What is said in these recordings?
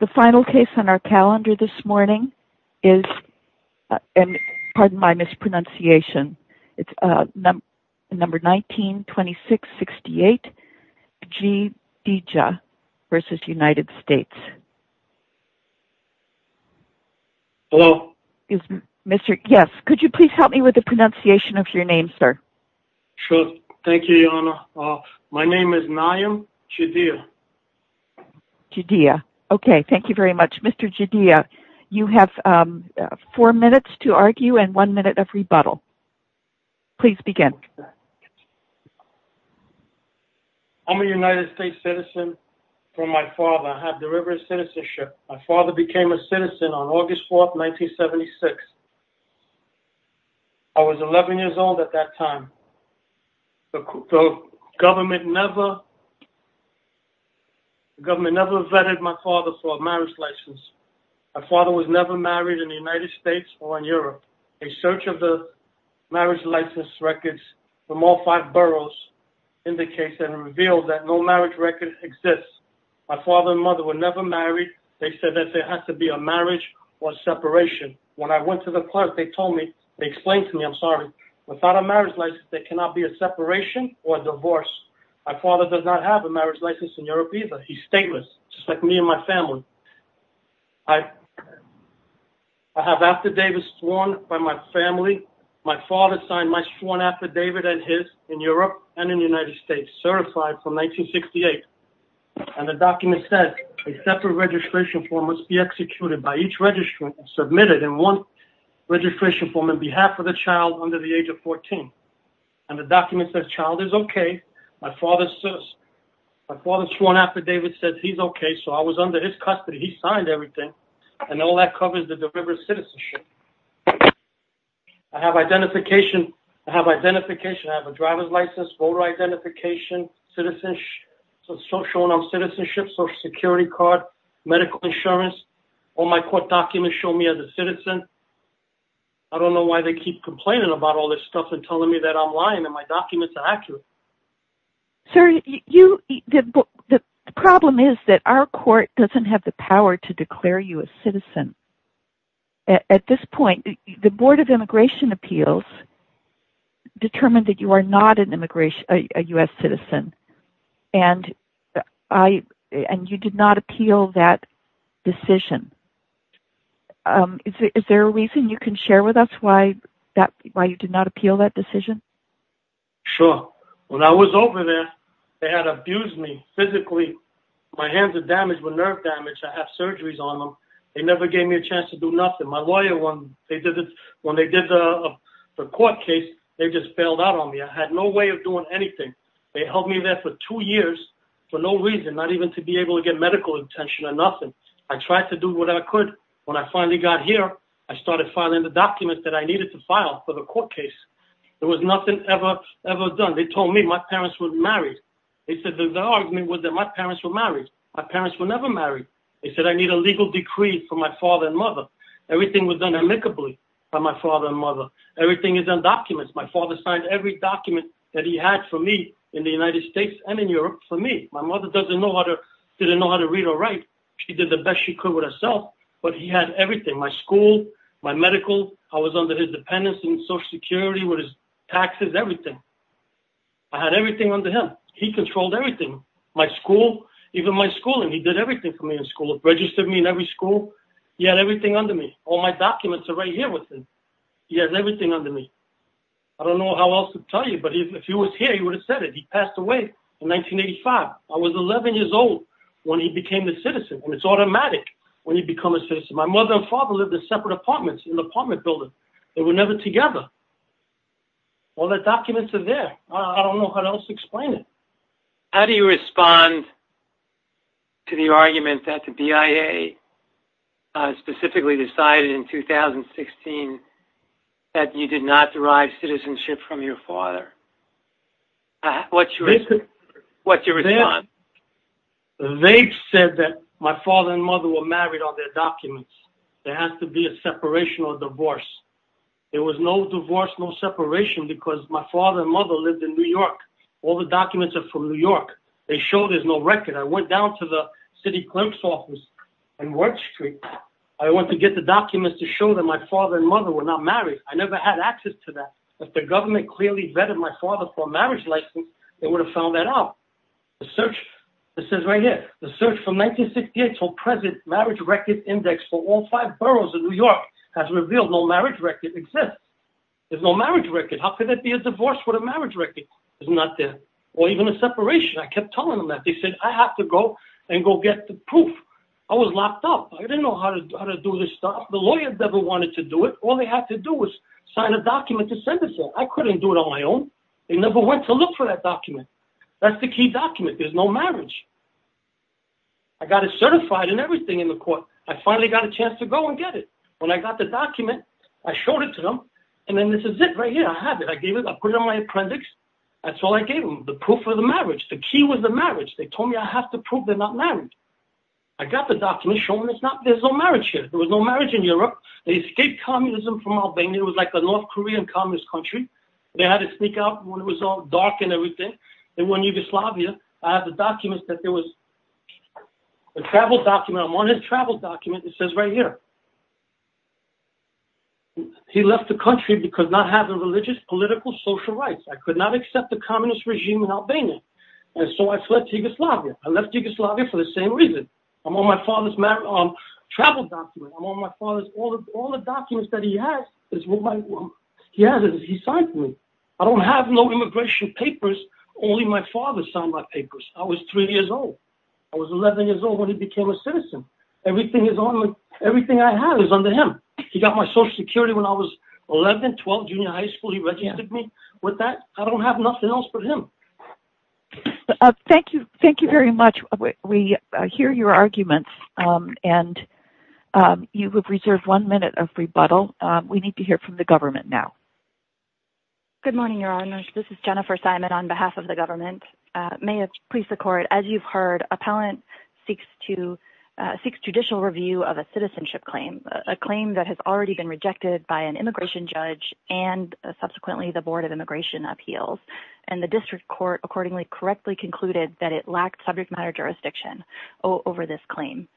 The final case on our calendar this morning is Pardon my mispronunciation It's number 19-26-68 Gjidija v. United States Hello Yes, could you please help me with the pronunciation of your name, sir? Sure, thank you, Your Honor My name is Nayim Gjidija Gjidija Okay, thank you very much Mr. Gjidija, you have four minutes to argue and one minute of rebuttal Please begin I'm a United States citizen from my father I have deliberate citizenship My father became a citizen on August 4th, 1976 I was 11 years old at that time The government never The government never vetted my father for a marriage license My father was never married in the United States or in Europe A search of the marriage license records from all five boroughs indicates and reveals that no marriage records exist My father and mother were never married They said that there has to be a marriage or separation When I went to the clerk, they told me They explained to me, I'm sorry Without a marriage license, there cannot be a separation or a divorce My father does not have a marriage license in Europe either He's stateless, just like me and my family I have after David sworn by my family My father signed my sworn affidavit and his In Europe and in the United States Certified from 1968 And the document said A separate registration form must be executed By each registrant submitted in one registration form On behalf of the child under the age of 14 And the document says the child is okay My father is a citizen My father's sworn affidavit says he's okay So I was under his custody He signed everything And all that covers the delivered citizenship I have identification I have a driver's license, voter identification Citizenship Social Security card Medical insurance All my court documents show me as a citizen I don't know why they keep complaining about all this stuff And telling me that I'm lying And my documents are accurate Sir, you The problem is that our court doesn't have the power To declare you a citizen At this point The Board of Immigration Appeals Determined that you are not an immigration A U.S. citizen And I And you did not appeal that decision Is there a reason you can share with us Why you did not appeal that decision? Sure When I was over there They had abused me physically My hands were damaged, my nerves were damaged I had surgeries on them They never gave me a chance to do nothing My lawyer, when they did the court case They just bailed out on me I had no way of doing anything They held me there for two years For no reason Not even to be able to get medical attention or nothing I tried to do what I could When I finally got here I started filing the documents that I needed to file For the court case There was nothing ever done They told me my parents were married The argument was that my parents were married My parents were never married They said I need a legal decree for my father and mother Everything was done amicably By my father and mother Everything is on documents My father signed every document that he had for me In the United States and in Europe for me My mother didn't know how to read or write She did the best she could with herself But he had everything My school, my medical I was under his dependence and social security With his taxes, everything I had everything under him He controlled everything My school, even my schooling He did everything for me in school Registered me in every school He had everything under me All my documents are right here with him He has everything under me I don't know how else to tell you But if he was here he would have said it He passed away in 1985 I was 11 years old When he became a citizen It's automatic when you become a citizen My mother and father lived in separate apartments In an apartment building They were never together All the documents are there I don't know how else to explain it How do you respond To the argument that the BIA Specifically decided in 2016 That you did not derive citizenship from your father What's your response? They said that my father and mother were married On their documents There has to be a separation or divorce There was no divorce, no separation Because my father and mother lived in New York All the documents are from New York They showed there's no record I went down to the city clerk's office In Ward Street I went to get the documents to show That my father and mother were not married I never had access to that If the government clearly vetted my father For a marriage license They would have found that out The search It says right here The search from 1968 until present Marriage record index for all five boroughs in New York Has revealed no marriage record exists There's no marriage record How could there be a divorce with a marriage record? It's not there Or even a separation I kept telling them that They said I have to go And go get the proof I was locked up I didn't know how to do this stuff The lawyers never wanted to do it All they had to do was Sign a document to send it to me I couldn't do it on my own They never went to look for that document That's the key document There's no marriage I got it certified and everything in the court I finally got a chance to go and get it When I got the document I showed it to them And then this is it right here I have it I gave it I put it on my appendix That's all I gave them The proof of the marriage The key was the marriage They told me I have to prove they're not married I got the document Showing it's not There's no marriage here There was no marriage in Europe They escaped communism from Albania It was like the North Korean communist country They had to sneak out When it was all dark and everything They went to Yugoslavia I have the document that there was A travel document I'm on his travel document It says right here He left the country Because not having religious, political, social rights I could not accept the communist regime in Albania And so I fled to Yugoslavia I left Yugoslavia for the same reason I'm on my father's travel document I'm on my father's All the documents that he has He has it He signed for me I don't have no immigration papers Only my father signed my papers I was 3 years old I was 11 years old when he became a citizen Everything I have is under him He got my social security when I was 11 12, junior high school He registered me with that I don't have nothing else but him Thank you very much We hear your arguments And you have reserved one minute of rebuttal We need to hear from the government now Good morning, your honor This is Jennifer Simon on behalf of the government May it please the court As you've heard Appellant seeks to Seeks judicial review of a citizenship claim A claim that has already been rejected By an immigration judge And subsequently the board of immigration appeals And the district court accordingly correctly concluded That it lacked subject matter jurisdiction Over this claim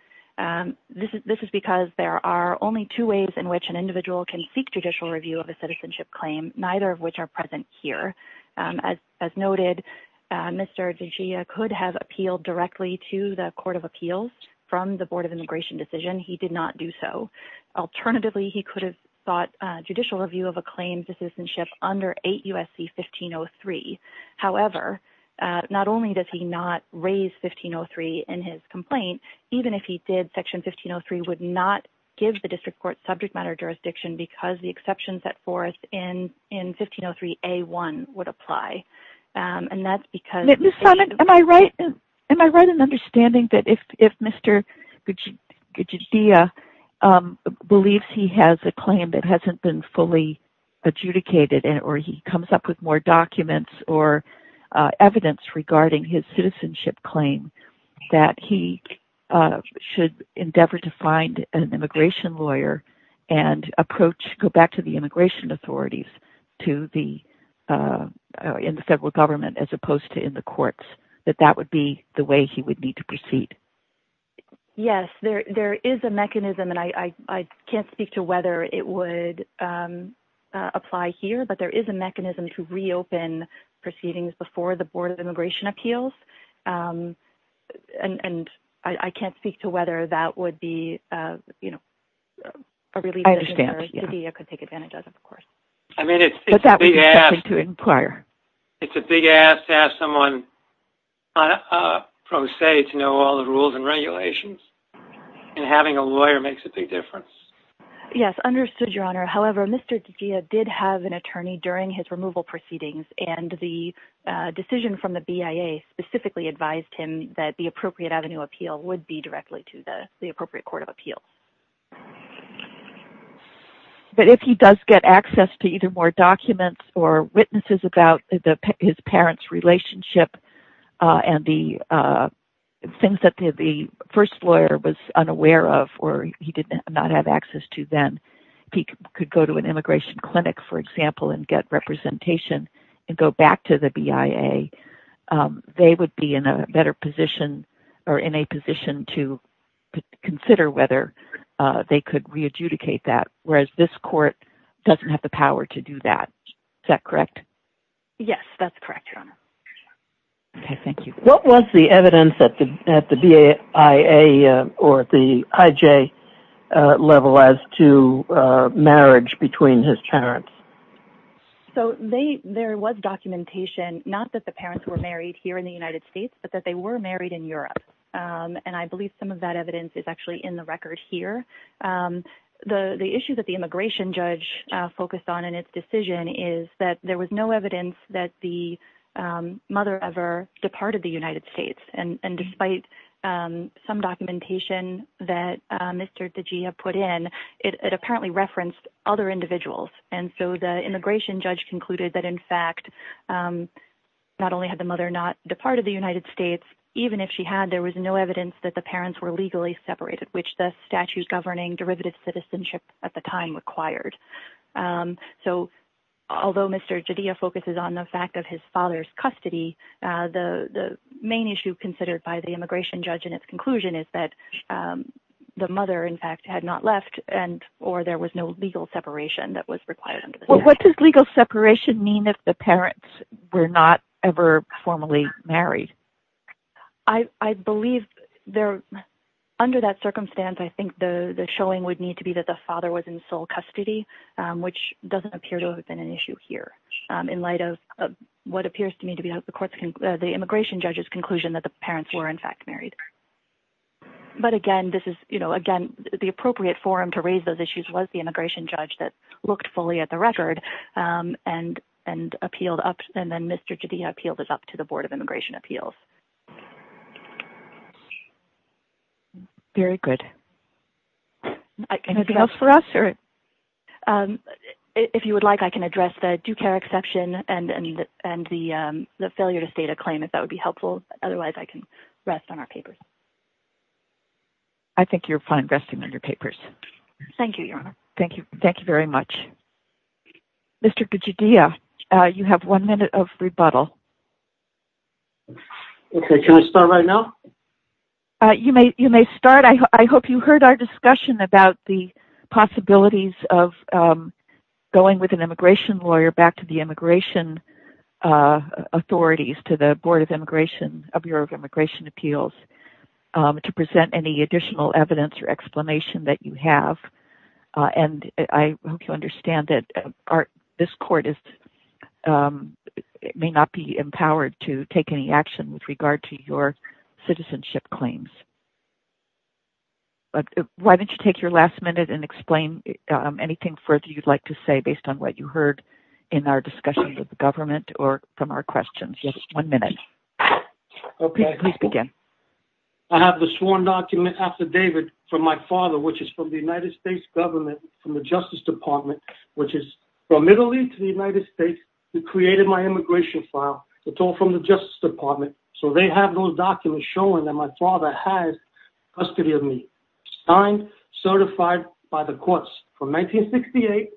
This is because there are only two ways In which an individual can seek judicial review Of a citizenship claim Neither of which are present here As noted Mr. DeGioia could have appealed directly To the court of appeals From the board of immigration decision He did not do so Alternatively he could have sought Judicial review of a claim to citizenship Under 8 U.S.C. 1503 However Not only does he not raise 1503 In his complaint Even if he did Section 1503 would not Give the district court subject matter jurisdiction Because the exceptions set forth In 1503 A.1. would apply And that's because Ms. Simon Am I right Am I right in understanding That if Mr. DeGioia Believes he has a claim That hasn't been fully adjudicated Or he comes up with more documents Or evidence regarding his citizenship claim That he should endeavor to find An immigration lawyer And approach Go back to the immigration authorities To the In the federal government As opposed to in the courts That that would be The way he would need to proceed Yes There is a mechanism And I can't speak to whether It would apply here But there is a mechanism To reopen proceedings Before the board of immigration appeals And I can't speak to whether That would be A relief measure DeGioia could take advantage of Of course I mean it's It's a big ask To inquire It's a big ask To ask someone Pro se To know all the rules And regulations And having a lawyer Makes a big difference Yes Understood your honor However Mr. DeGioia Did have an attorney During his removal proceedings And the Decision from the BIA Specifically advised him That the appropriate avenue appeal Would be directly to the Appropriate court of appeal But if he does get access To either more documents Or witnesses about His parents relationship And the Things that the first lawyer Was unaware of Or he did not have access to Then He could go to an immigration clinic For example And get representation And go back to the BIA They would be in a Better position Or in a position to Consider whether They could re-adjudicate that Whereas this court Doesn't have the power to do that Is that correct? Yes that's correct your honor Okay thank you What was the evidence That the BIA Or the IJ Level as to Marriage between his parents So they There was documentation Not that the parents were married Here in the United States But that they were married in Europe And I believe some of that evidence Is actually in the record here The issue that the immigration judge Focused on in its decision Is that there was no evidence That the mother ever Departed the United States And despite Some documentation that Mr. DeGia put in It apparently referenced other individuals And so the immigration judge Concluded that in fact Not only had the mother not Departed the United States Even if she had there was no evidence That the parents were legally separated Which the statute governing Derivative citizenship at the time required So Although Mr. DeGia focuses on the fact Of his father's custody The main issue considered By the immigration judge in its conclusion Is that the mother in fact Had not left and or there was No legal separation that was required What does legal separation mean If the parents were not Ever formally married I believe Under that circumstance I think the showing would need to be That the father was in sole custody Which doesn't appear to have been an issue Here in light of What appears to me to be the immigration judge's Conclusion that the parents were In fact married But again The appropriate forum to raise those issues was The immigration judge that looked fully at the record And Appealed up and then Mr. DeGia appealed It up to the board of immigration appeals Very good Anything else for us? If you would like I can address the Due care exception and The failure to state a claim If that would be helpful otherwise I can rest On our papers I think you're fine resting on your papers Thank you your honor Thank you very much Mr. DeGia You have one minute of rebuttal Can I start right now? You may start I hope you heard our discussion about the Possibilities of Going with an immigration lawyer Back to the immigration Authorities to the Board of immigration Appeals To present any additional evidence or Explanation that you have And I hope you understand That this court May not be Empowered to take any action With regard to your citizenship Claims Why don't you take your last Minute and explain anything Further you'd like to say based on what you heard In our discussion with the government Or from our questions One minute Please begin I have the sworn document affidavit from my Government from the justice department Which is from middle east to the united states Who created my immigration File it's all from the justice department So they have those documents showing That my father has custody Of me signed Certified by the courts From 1968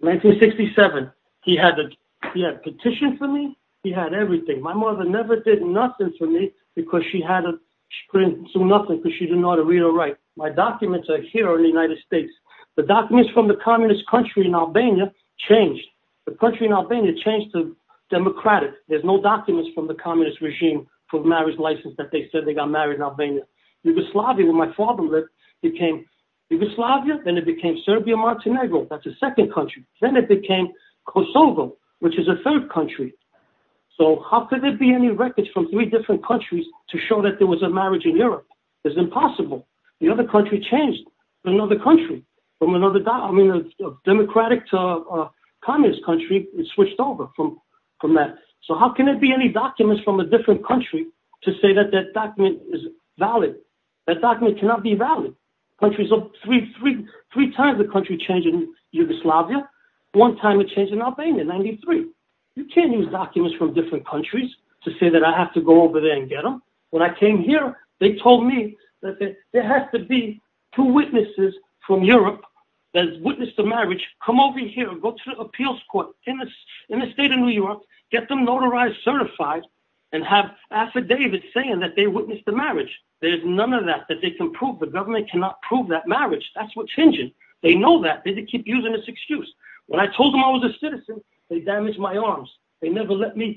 1967 He had petitioned for me He had everything my mother never did nothing For me because she had She couldn't do nothing because she didn't know how to read or write My documents are here in the united states The documents from the communist country In Albania changed The country in Albania changed to Democratic there's no documents from the communist Regime for marriage license that they Said they got married in Albania Yugoslavia where my father lived Became Yugoslavia then it became Serbia-Montenegro that's a second country Then it became Kosovo Which is a third country So how could there be any records from three different Countries to show that there was a marriage In Europe it's impossible The other country changed to another country From another Democratic to communist Country it switched over from That so how can there be any documents From a different country to say that That document is valid That document cannot be valid Three times the country Changed in Yugoslavia One time it changed in Albania in 93 You can't use documents from different Countries to say that I have to go over There and get them when I came here They told me that there has to be Two witnesses from Europe that witnessed the marriage Come over here go to the appeals court In the state of New York Get them notarized certified And have affidavits saying that They witnessed the marriage there's none of that That they can prove the government cannot prove That marriage that's what's hinging they know That they keep using this excuse When I told them I was a citizen they damaged My arms they never let me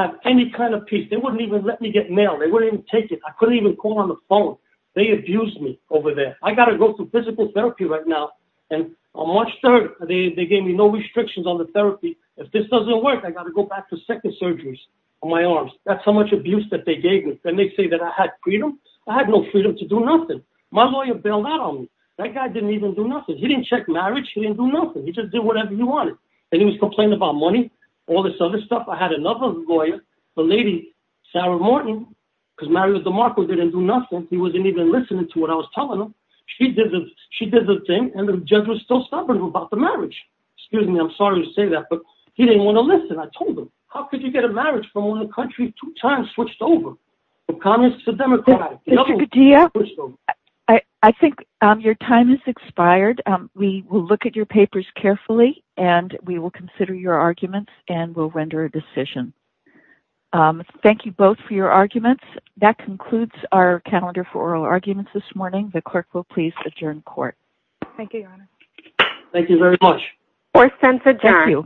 Have any kind of peace they wouldn't even let me Get mail they wouldn't even take it I couldn't even call On the phone they abused me Over there I gotta go to physical therapy Right now and on March 3rd They gave me no restrictions on the therapy If this doesn't work I gotta go back To second surgeries on my arms That's how much abuse that they gave me and they say That I had freedom I had no freedom to Do nothing my lawyer bailed out on me That guy didn't even do nothing he didn't check Marriage he didn't do nothing he just did whatever he Wanted and he was complaining about money All this other stuff I had another Lawyer the lady Sarah Morton Because Mario DeMarco didn't do Nothing he wasn't even listening to what I was Telling him she did the thing And the judge was still stubborn about the Marriage excuse me I'm sorry to say that But he didn't want to listen I told him How could you get a marriage from when the country Two times switched over from communist To democratic I think Your time has expired we Will look at your papers carefully And we will consider your arguments And we'll render a decision Thank you both for your Arguments that concludes our Calendar for oral arguments this morning The clerk will please adjourn court Thank you Thank you very much